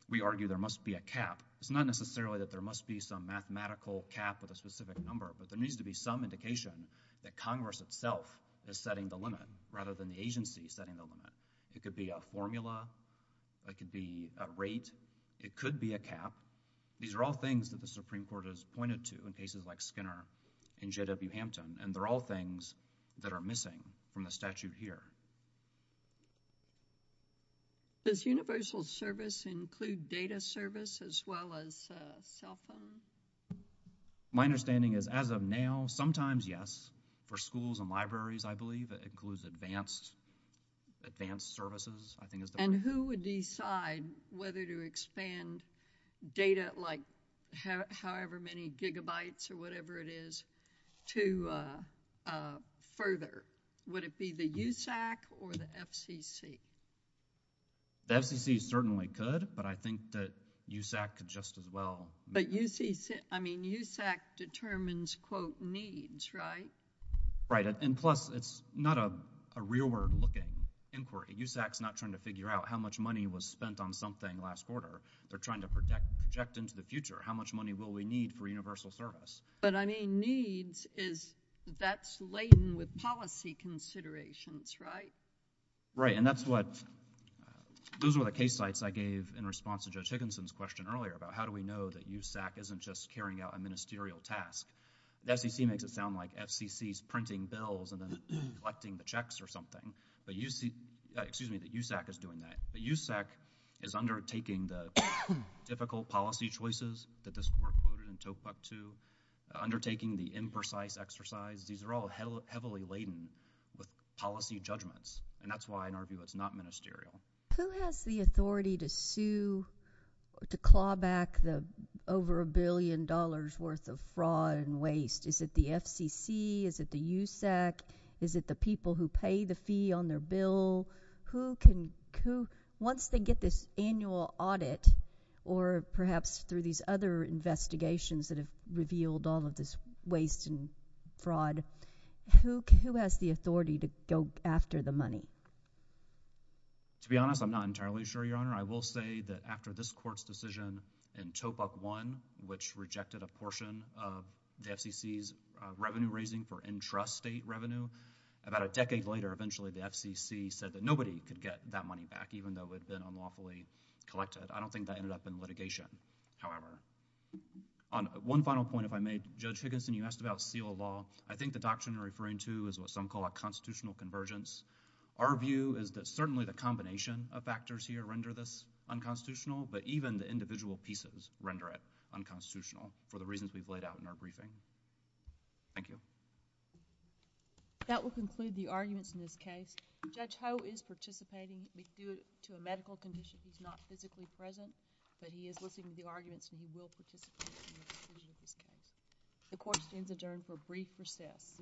we argue there must be a cap. It's not necessarily that there must be some mathematical cap with a specific number, but there needs to be some indication that Congress itself is setting the limit, rather than the agency setting the limit. It could be a formula. It could be a rate. It could be a cap. These are all things that the Supreme Court has pointed to in cases like Skinner and JW Hampton, and they're all things that are missing from the statute here. Does universal service include data service as well as cell phone? My understanding is, as of now, sometimes, yes. For schools and libraries, I believe, it includes advanced services, I think is the word. And who would decide whether to expand data like however many gigabytes or whatever it is to further? Would it be the USAC or the FCC? The FCC certainly could, but I think that USAC could just as well. But USAC, I mean, USAC determines, quote, needs, right? Right, and plus, it's not a real world looking inquiry. USAC's not trying to figure out how much money was spent on something last quarter. They're trying to project into the future how much money will we need for universal service. But I mean, needs is, that's laden with policy considerations, right? Right, and that's what, those were the case sites I gave in response to Judge Higginson's question earlier about how do we know that USAC isn't just carrying out a ministerial task. The FCC makes it sound like FCC's printing bills and then collecting the checks or something. But you see, excuse me, that USAC is doing that. But USAC is undertaking the difficult policy choices that this court quoted in TOEFC 2, undertaking the imprecise exercise. These are all heavily laden with policy judgments, and that's why, in our view, it's not ministerial. Who has the authority to sue, to claw back the over a billion dollars worth of fraud and waste? Is it the FCC? Is it the USAC? Is it the people who pay the fee on their bill? Who can, who, once they get this annual audit, or perhaps through these other investigations that have revealed all of this waste and fraud, who has the authority to go after the money? To be honest, I'm not entirely sure, Your Honor. I will say that after this court's decision in TOEFC 1, which rejected a portion of the FCC's revenue raising for intrastate revenue, about a decade later, eventually, the FCC said that nobody could get that money back, even though it had been unlawfully collected. I don't think that ended up in litigation, however. On one final point, if I may, Judge Higginson, you asked about seal of law. I think the doctrine you're referring to is what some call a constitutional convergence. Our view is that certainly the combination of factors here render this unconstitutional, but even the individual pieces render it unconstitutional for the reasons we've laid out in our briefing. Thank you. That will conclude the arguments in this case. Judge Ho is participating due to a medical condition who's not physically present, but he is listening to the arguments and he will participate in the conclusion of this case. The court stands adjourned for brief recess.